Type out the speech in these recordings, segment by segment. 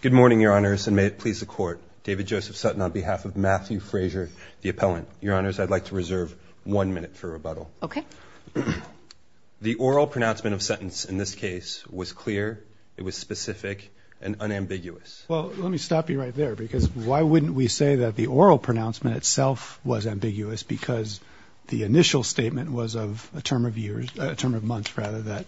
Good morning, Your Honors, and may it please the Court. David Joseph Sutton on behalf of Matthew Frazer, the appellant. Your Honors, I'd like to reserve one minute for rebuttal. The oral pronouncement of sentence in this case was clear, it was specific, and unambiguous. Well, let me stop you right there, because why wouldn't we say that the oral pronouncement itself was ambiguous because the initial statement was of a term of years, a term of months rather that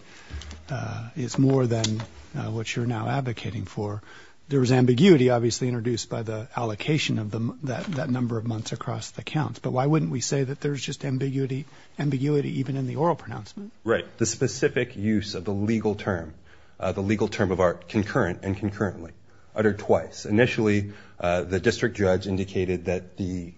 is more than what you're now advocating for. There was ambiguity, obviously, introduced by the allocation of that number of months across the counts, but why wouldn't we say that there's just ambiguity even in the oral pronouncement? Right. The specific use of the legal term, the legal term of art, concurrent and concurrently, uttered twice. Initially, the district judge indicated that the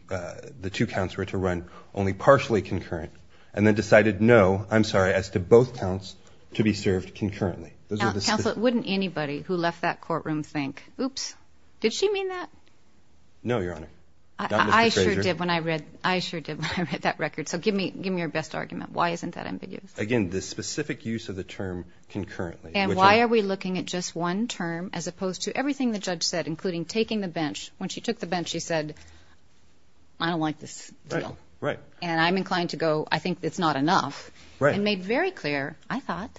two counts were to run concurrent, only partially concurrent, and then decided no, I'm sorry, as to both counts to be served concurrently. Now, Counselor, wouldn't anybody who left that courtroom think, oops, did she mean that? No, Your Honor, not Mr. Frazer. I sure did when I read that record, so give me your best argument. Why isn't that ambiguous? Again, the specific use of the term concurrently. And why are we looking at just one term as opposed to everything the judge said, including taking the bench? When she took the bench, she said, I don't like this deal. Right. And I'm inclined to go, I think it's not enough. Right. And made very clear, I thought,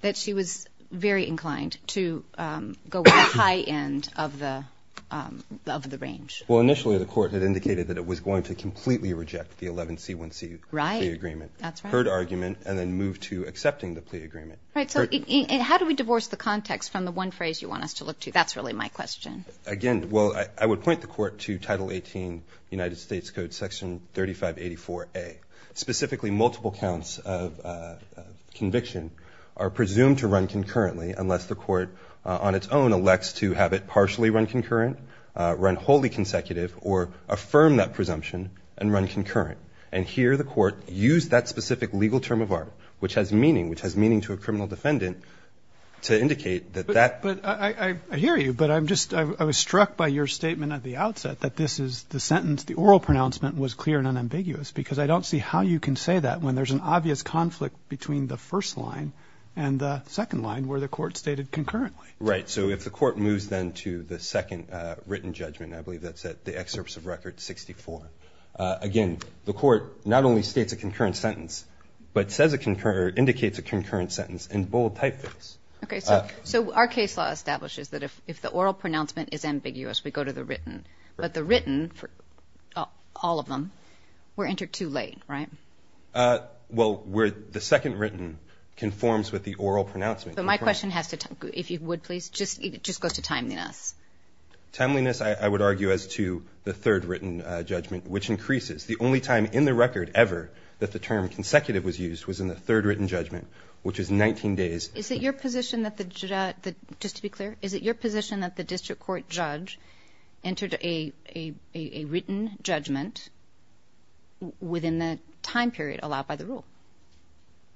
that she was very inclined to go with the high end of the range. Well, initially, the court had indicated that it was going to completely reject the 11C1C plea agreement. Right. That's right. Heard argument, and then moved to accepting the plea agreement. Right. So how do we divorce the context from the one phrase you want us to look to? That's really my question. Again, well, I would point the court to Title 18, United States Code, Section 3584A. Specifically, multiple counts of conviction are presumed to run concurrently unless the court on its own elects to have it partially run concurrent, run wholly consecutive, or affirm that presumption and run concurrent. And here the court used that specific legal term of art, which has meaning, which has meaning to a criminal defendant, to indicate that that But I hear you, but I'm just, I was struck by your statement at the outset that this is the sentence, the oral pronouncement was clear and unambiguous, because I don't see how you can say that when there's an obvious conflict between the first line and the second line where the court stated concurrently. Right. So if the court moves then to the second written judgment, I believe that's at the excerpts of Record 64. Again, the court not only states a concurrent sentence, but says a concurrent, or indicates a concurrent sentence in bold typeface. Okay, so our case law establishes that if the oral pronouncement is ambiguous, we go to the written, but the written, all of them, we're entered too late, right? Well, the second written conforms with the oral pronouncement. But my question has to, if you would please, just goes to timeliness. Timeliness, I would argue, as to the third written judgment, which increases. The only time in the record ever that the term consecutive was used was in the third written judgment, which is 19 days. Is it your position that the, just to be clear, is it your position that the district court judge entered a written judgment within the time period allowed by the rule?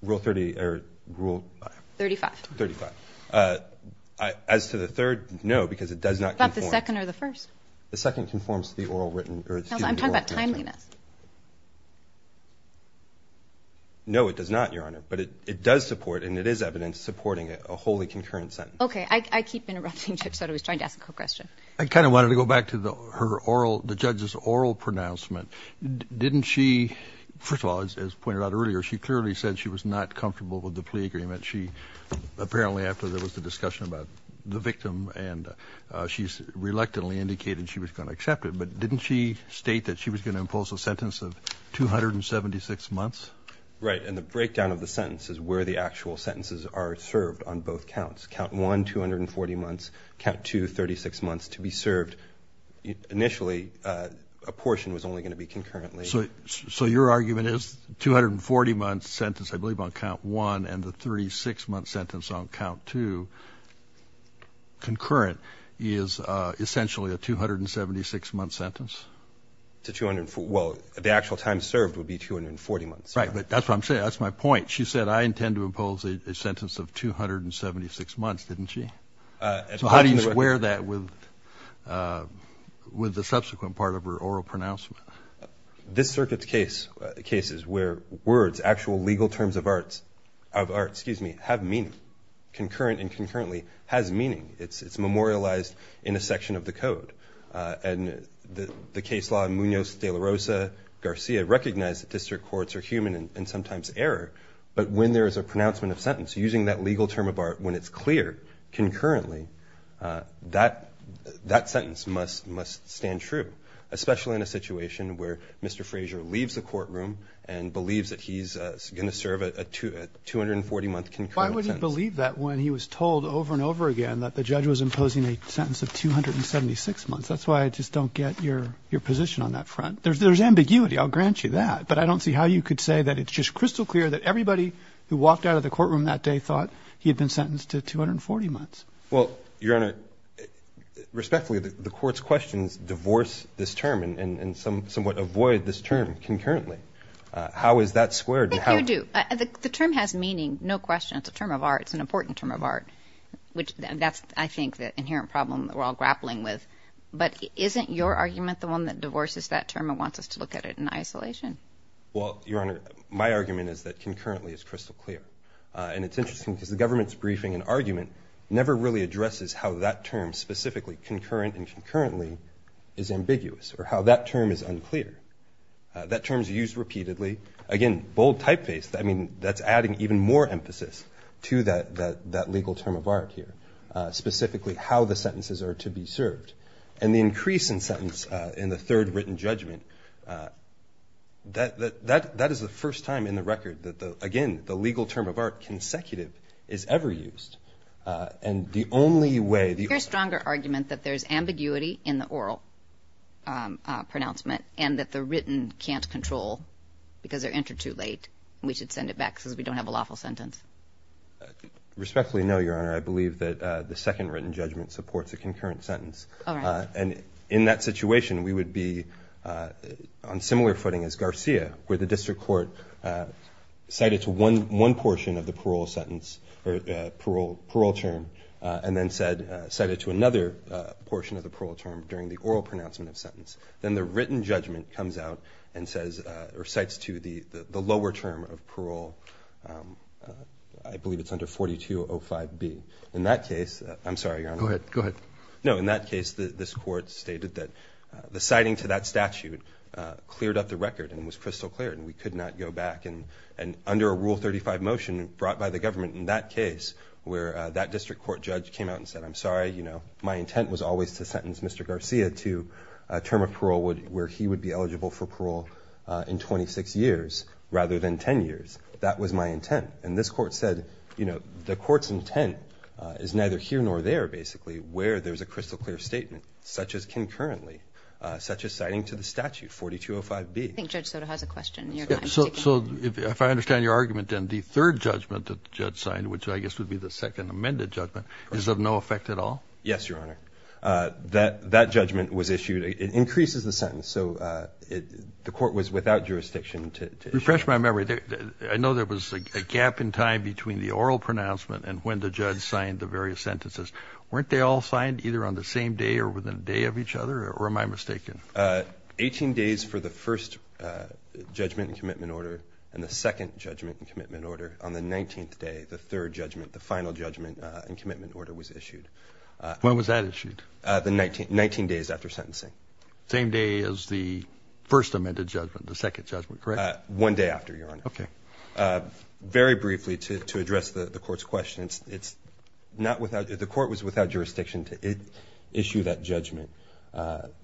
Rule 30, or rule? 35. 35. As to the third, no, because it does not conform. But the second or the first? The second conforms to the oral written, or excuse me, oral pronouncement. I'm talking about timeliness. No, it does not, Your Honor. But it does support, and it is evidence supporting, a wholly concurrent sentence. Okay. I keep interrupting Judge Soto. He's trying to ask a question. I kind of wanted to go back to the, her oral, the judge's oral pronouncement. Didn't she, first of all, as pointed out earlier, she clearly said she was not comfortable with the plea agreement. She, apparently, after there was the discussion about the victim, and she's reluctantly indicated she was going to accept it, but didn't she state that she was going to impose a sentence of 276 months? Right. And the breakdown of the sentence is where the actual sentences are served on both counts. Count 1, 240 months. Count 2, 36 months to be served. Initially, a portion was only going to be concurrently. So your argument is 240-month sentence, I believe, on count 1, and the 36-month sentence on count 2, concurrent, is essentially a 276-month sentence? Well, the actual time served would be 240 months. Right. But that's what I'm saying. That's my point. She said, I intend to impose a sentence of 276 months, didn't she? So how do you square that with the subsequent part of her oral pronouncement? This circuit's case, cases where words, actual legal terms of art, excuse me, have meaning, concurrent and concurrently has meaning. It's memorialized in a section of the code. And the case law, Munoz, De La Rosa, Garcia, recognize that district courts are human and sometimes error. But when there is a pronouncement of sentence, using that legal term of art, when it's clear, concurrently, that sentence must stand true. Especially in a situation where Mr. Fraser leaves the courtroom and believes that he's going to serve a 240-month concurrent sentence. Why would he believe that when he was told over and over again that the That's why I just don't get your position on that front. There's ambiguity. I'll grant you that. But I don't see how you could say that it's just crystal clear that everybody who walked out of the courtroom that day thought he had been sentenced to 240 months. Well, Your Honor, respectfully, the court's questions divorce this term and somewhat avoid this term, concurrently. How is that squared? I think you do. The term has meaning, no question. It's a term of art. It's an important term of art. That's, I think, the inherent problem that we're all grappling with. But isn't your argument the one that divorces that term and wants us to look at it in isolation? Well, Your Honor, my argument is that concurrently is crystal clear. And it's interesting because the government's briefing and argument never really addresses how that term, specifically, concurrent and concurrently, is ambiguous or how that term is unclear. That term is used repeatedly. Again, bold typeface. I mean, that's adding even more emphasis to that legal term of art here, specifically how the sentences are to be served. And the increase in sentence in the third written judgment, that is the first time in the record that, again, the legal term of art consecutive is ever used. And the only way the... Your stronger argument that there's ambiguity in the oral pronouncement and that the written can't control because they're answered too late and we should send it back because we don't have a lawful sentence. Respectfully, no, Your Honor. I believe that the second written judgment supports a concurrent sentence. All right. And in that situation, we would be on similar footing as Garcia, where the district court cited to one portion of the parole sentence or parole term and then cited to another portion of the parole term during the oral pronouncement of sentence. Then the written judgment comes out and says or cites to the lower term of parole. I believe it's under 4205B. In that case... I'm sorry, Your Honor. Go ahead. Go ahead. No, in that case, this court stated that the citing to that statute cleared up the record and was crystal clear and we could not go back. And under a Rule 35 motion brought by the government in that case, where that district court judge came out and said, I'm sorry, you know, my intent was always to sentence Mr. Garcia to a term of parole where he would be eligible for parole in 26 years rather than 10 years. That was my intent. And this court said, you know, the court's intent is neither here nor there, basically, where there's a crystal clear statement, such as concurrently, such as citing to the statute, 4205B. I think Judge Soto has a question. So if I understand your argument, then the third judgment that the judge signed, which I guess would be the second amended judgment, is of no effect at all? Yes, Your Honor. That judgment was issued. It increases the sentence. So the court was without jurisdiction to issue it. Refresh my memory. I know there was a gap in time between the oral pronouncement and when the judge signed the various sentences. Weren't they all signed either on the same day or within a day of each other? Or am I mistaken? Eighteen days for the first judgment and commitment order and the second judgment and commitment order. On the 19th day, the third judgment, the final judgment and commitment order was issued. When was that issued? Nineteen days after sentencing. Same day as the first amended judgment, the second judgment, correct? One day after, Your Honor. Okay. Very briefly, to address the court's question, the court was without jurisdiction to issue that judgment.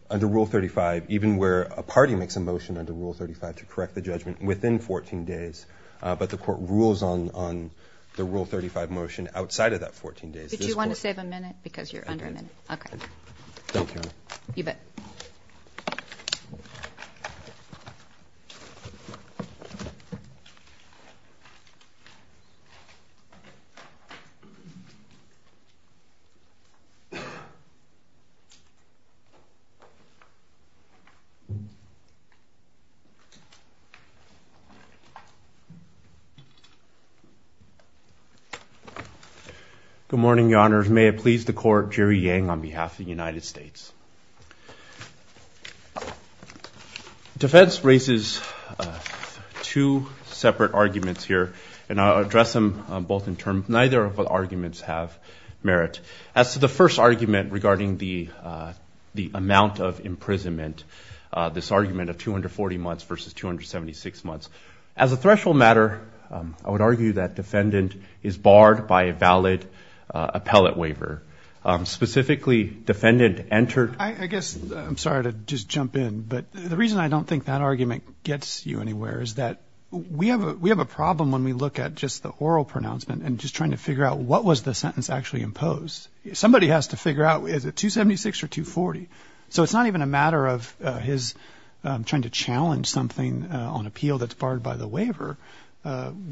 Under Rule 35, even where a party makes a motion under Rule 35 to correct the judgment within 14 days, but the court rules on the Rule 35 motion outside of that 14 days. But you want to save a minute because you're under a minute. Thank you, Your Honor. You bet. Good morning, Your Honors. May it please the court, Jerry Yang on behalf of the United States. Defense raises two separate arguments here and I'll address them both in terms. Neither of the arguments have merit. As to the first argument regarding the amount of imprisonment, this argument of 240 months versus 276 months, as a threshold matter, I would argue that defendant is barred by a valid appellate waiver. Specifically, defendant entered... I guess, I'm sorry to just jump in, but the reason I don't think that argument gets you anywhere is that we have a problem when we look at just the oral pronouncement and just trying to figure out what was the sentence actually imposed. Somebody has to figure out, is it 276 or 240? So it's not even a matter of his trying to challenge something on appeal that's barred by the waiver.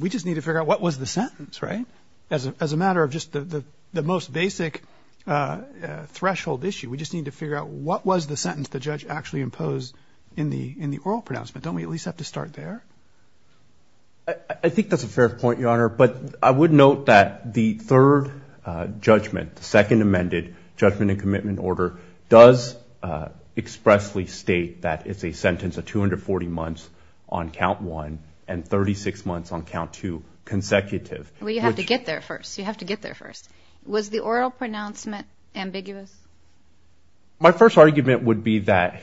We just need to figure out what was the sentence, right? As a matter of just the most basic threshold issue, we just need to figure out what was the sentence the judge actually imposed in the oral pronouncement. Don't we at least have to start there? I think that's a fair point, Your Honor. But I would note that the third judgment, the second amended judgment and commitment order, does expressly state that it's a sentence of 240 months on count one and 36 months on count two consecutive. Well, you have to get there first. Was the oral pronouncement ambiguous? My first argument would be that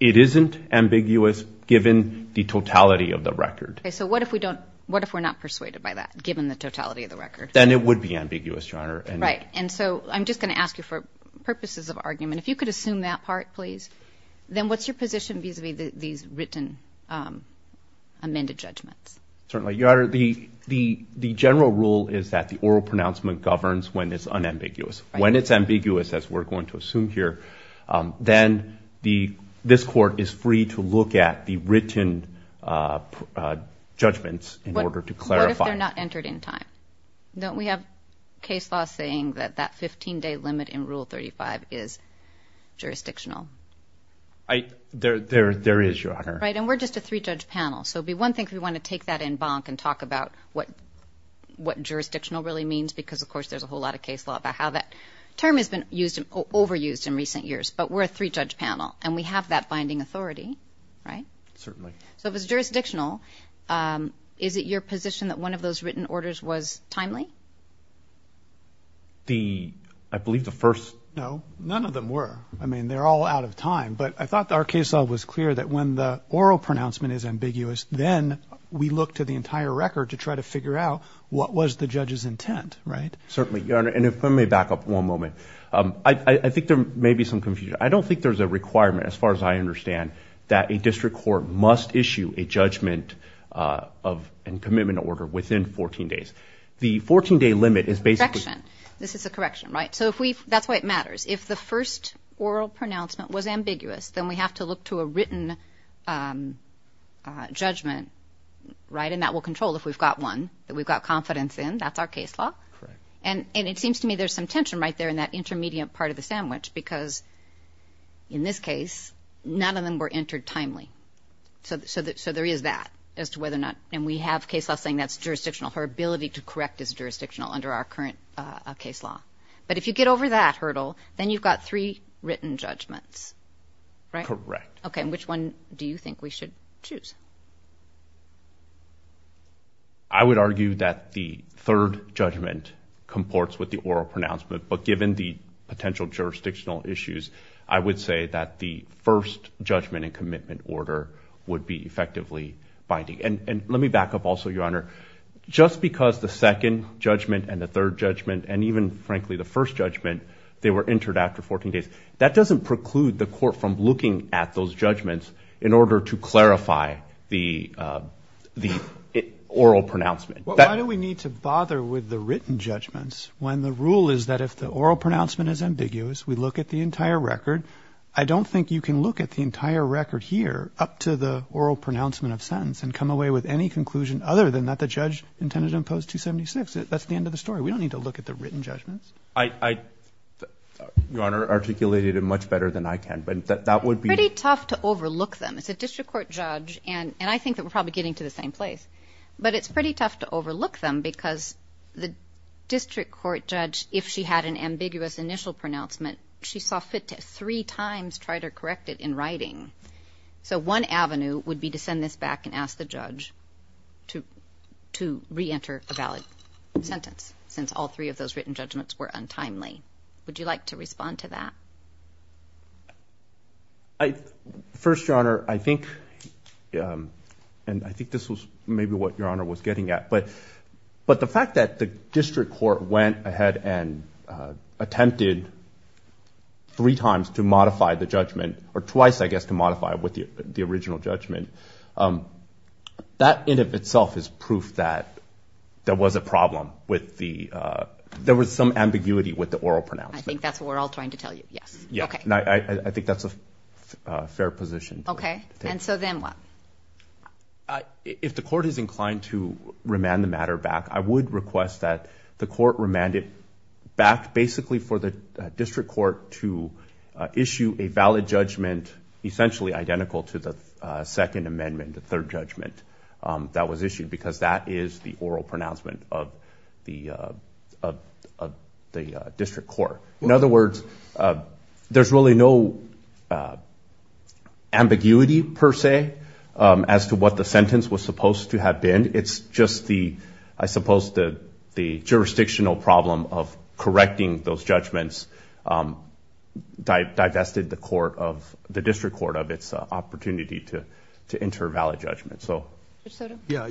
it isn't ambiguous given the totality of the record. So what if we're not persuaded by that, given the totality of the record? Then it would be ambiguous, Your Honor. Right, and so I'm just going to ask you for purposes of argument. If you could assume that part, please. Then what's your position vis-a-vis these written amended judgments? Certainly, Your Honor. The general rule is that the oral pronouncement governs when it's unambiguous. When it's ambiguous, as we're going to assume here, then this Court is free to look at the written judgments in order to clarify. What if they're not entered in time? Don't we have case law saying that that 15-day limit in Rule 35 is jurisdictional? There is, Your Honor. Right, and we're just a three-judge panel. So it would be one thing if we want to take that in bonk and talk about what jurisdictional really means because, of course, there's a whole lot of case law about how that term has been overused in recent years. But we're a three-judge panel, and we have that binding authority, right? Certainly. So if it's jurisdictional, is it your position that one of those written orders was timely? The... I believe the first... No, none of them were. I mean, they're all out of time. But I thought our case law was clear that when the oral pronouncement is ambiguous, then we look to the entire record to try to figure out what was the judge's intent, right? Certainly, Your Honor. And if let me back up one moment. I think there may be some confusion. I don't think there's a requirement, as far as I understand, that a district court must issue a judgment and commitment order within 14 days. The 14-day limit is basically... Correction. This is a correction, right? So if we... That's why it matters. If the first oral pronouncement was ambiguous, then we have to look to a written judgment, right? And that will control if we've got one that we've got confidence in. That's our case law. Correct. And it seems to me there's some tension right there in that intermediate part of the sandwich because, in this case, none of them were entered timely. So there is that as to whether or not... And we have case law saying that's jurisdictional. Her ability to correct is jurisdictional under our current case law. But if you get over that hurdle, then you've got three written judgments, right? Correct. Okay, and which one do you think we should choose? I would argue that the third judgment comports with the oral pronouncement, but given the potential jurisdictional issues, I would say that the first judgment and commitment order would be effectively binding. And let me back up also, Your Honor. Just because the second judgment and the third judgment and even, frankly, the first judgment, they were entered after 14 days, that doesn't preclude the court from looking at those judgments in order to clarify the oral pronouncement. Why do we need to bother with the written judgments when the rule is that if the oral pronouncement is ambiguous, we look at the entire record? I don't think you can look at the entire record here up to the oral pronouncement of sentence and come away with any conclusion other than that the judge intended to impose 276. That's the end of the story. We don't need to look at the written judgments. Your Honor articulated it much better than I can, but that would be... Pretty tough to overlook them. It's a district court judge, and I think that we're probably getting to the same place. But it's pretty tough to overlook them because the district court judge, if she had an ambiguous initial pronouncement, she saw fit to three times try to correct it in writing. So one avenue would be to send this back and ask the judge to re-enter a valid sentence since all three of those written judgments were untimely. Would you like to respond to that? First, Your Honor, I think... And I think this was maybe what Your Honor was getting at, but the fact that the district court went ahead and attempted three times to modify the judgment, or twice, I guess, to modify it with the original judgment, that in and of itself is proof that there was a problem with the... There was some ambiguity with the oral pronouncement. I think that's what we're all trying to tell you, yes. Yes, and I think that's a fair position. Okay, and so then what? If the court is inclined to remand the matter back, I would request that the court remand it back basically for the district court to issue a valid judgment essentially identical to the Second Amendment, the third judgment that was issued, because that is the oral pronouncement of the district court. In other words, there's really no ambiguity, per se, as to what the sentence was supposed to have been. It's just the... I suppose the jurisdictional problem of correcting those judgments divested the district court of its opportunity to enter a valid judgment. Judge Sotomayor? Yeah,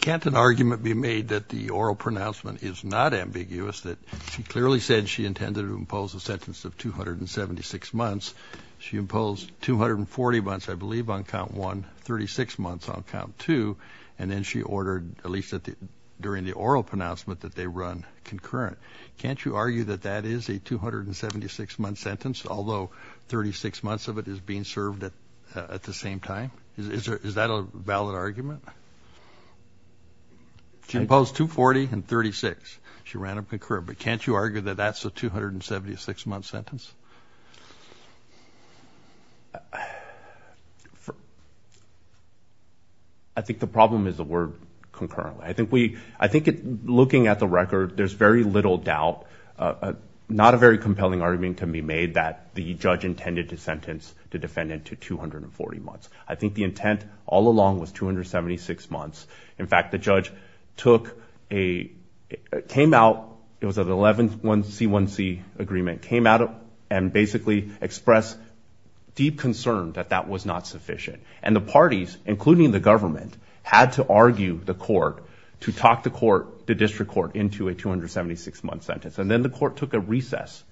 can't an argument be made that the oral pronouncement is not ambiguous, that she clearly said she intended to impose a sentence of 276 months. She imposed 240 months, I believe, on Count 1, 36 months on Count 2, and then she ordered, at least during the oral pronouncement, that they run concurrent. Can't you argue that that is a 276-month sentence, although 36 months of it is being served at the same time? Is that a valid argument? She imposed 240 and 36. She ran them concurrent. But can't you argue that that's a 276-month sentence? For... I think the problem is the word concurrent. I think we... I think looking at the record, there's very little doubt, not a very compelling argument can be made, that the judge intended to sentence the defendant to 240 months. I think the intent all along was 276 months. In fact, the judge took a... Came out... It was an 11-1c-1c agreement. Came out and basically expressed deep concern that that was not sufficient. And the parties, including the government, had to argue the court to talk the court, the district court, into a 276-month sentence. And then the court took a recess,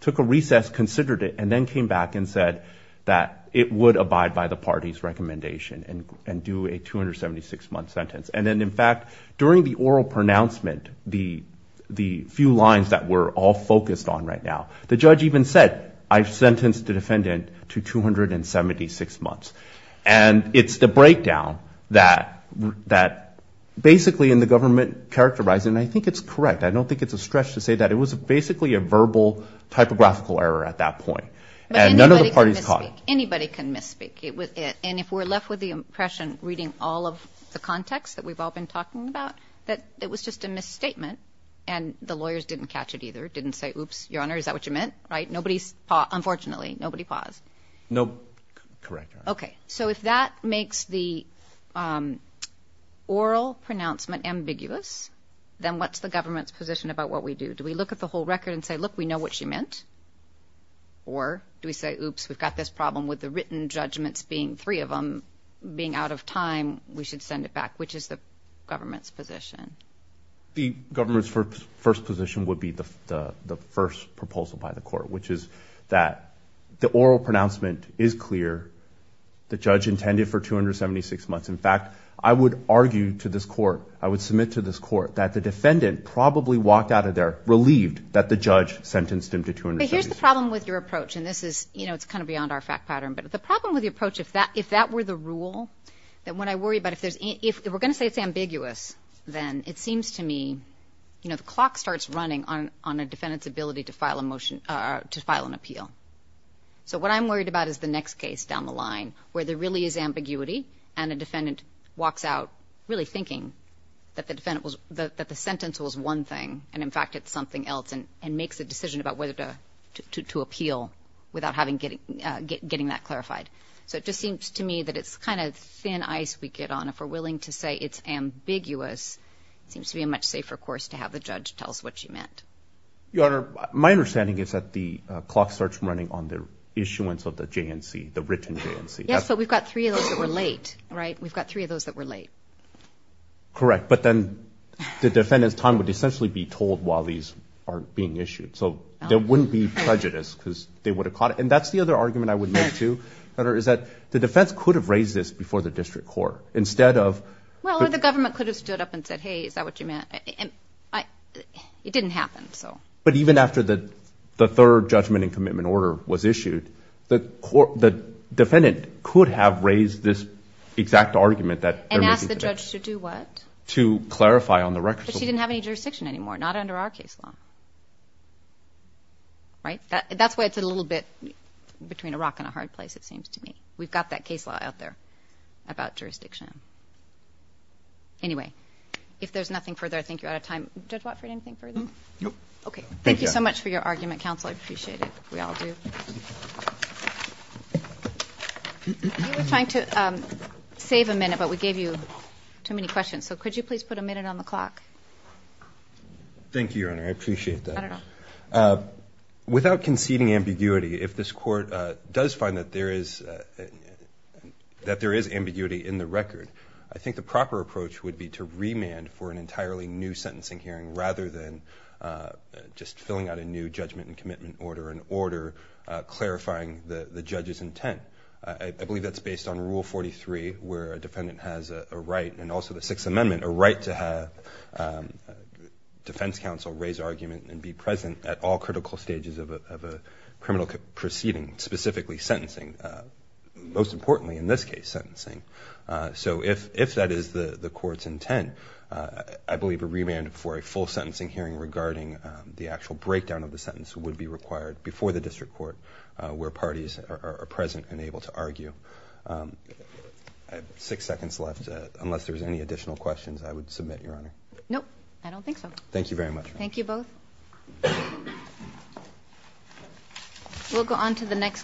took a recess, considered it, and then came back and said that it would abide by the party's recommendation and do a 276-month sentence. And then, in fact, during the oral pronouncement, the few lines that we're all focused on right now, the judge even said, I've sentenced the defendant to 276 months. And it's the breakdown that basically, and the government characterized it, and I think it's correct. I don't think it's a stretch to say that it was basically a verbal, typographical error at that point. But anybody can misspeak. And if we're left with the impression, reading all of the context that we've all been talking about, that it was just a misstatement and the lawyers didn't catch it either, didn't say, oops, Your Honor, is that what you meant? Right? Nobody's, unfortunately, nobody paused. No, correct. Okay, so if that makes the oral pronouncement ambiguous, then what's the government's position about what we do? Do we look at the whole record and say, look, we know what she meant? Or do we say, oops, we've got this problem with the written judgments being three of them being out of time, we should send it back? Which is the government's position? The government's first position would be the first proposal by the court, which is that the oral pronouncement is clear. The judge intended for 276 months. In fact, I would argue to this court, I would submit to this court, that the defendant probably walked out of there relieved that the judge sentenced him to 276 months. Okay, here's the problem with your approach, and it's kind of beyond our fact pattern, but the problem with your approach, if that were the rule, if we're going to say it's ambiguous, then it seems to me the clock starts running on a defendant's ability to file an appeal. So what I'm worried about is the next case down the line where there really is ambiguity and a defendant walks out really thinking that the sentence was one thing, and in fact, it's something else, and makes a decision about whether to appeal without getting that clarified. So it just seems to me that it's kind of thin ice we get on. If we're willing to say it's ambiguous, it seems to be a much safer course to have the judge tell us what she meant. Your Honor, my understanding is that the clock starts running on the issuance of the written J&C. Yes, but we've got three of those that were late, right? We've got three of those that were late. Correct, but then the defendant's time would essentially be told while these are being issued, so there wouldn't be prejudice because they would have caught it. And that's the other argument I would make, too, is that the defense could have raised this before the district court. Well, or the government could have stood up and said, hey, is that what you meant? It didn't happen. But even after the third judgment and commitment order was issued, the defendant could have raised this exact argument that they're making today. And asked the judge to do what? To clarify on the record. But she didn't have any jurisdiction anymore, not under our case law, right? That's why it's a little bit between a rock and a hard place, it seems to me. We've got that case law out there about jurisdiction. Anyway, if there's nothing further, I think you're out of time. Judge Watford, anything further? Nope. Thank you so much for your argument, counsel. I appreciate it. We all do. You were trying to save a minute, but we gave you too many questions. So could you please put a minute on the clock? Thank you, Your Honor. I appreciate that. Without conceding ambiguity, if this court does find that there is ambiguity in the record, I think the proper approach would be to remand for an entirely new sentencing hearing rather than just filling out a new judgment and commitment order and order clarifying the judge's intent. I believe that's based on Rule 43 where a defendant has a right and also the Sixth Amendment, a right to have defense counsel raise argument and be present at all critical stages of a criminal proceeding, specifically sentencing. Most importantly, in this case, sentencing. So if that is the court's intent, I believe a remand for a full sentencing hearing regarding the actual breakdown of the sentence would be required before the district court where parties are present and able to argue. I have six seconds left. Unless there's any additional questions, I would submit, Your Honor. Nope, I don't think so. Thank you very much. Thank you both. We'll go on to the next case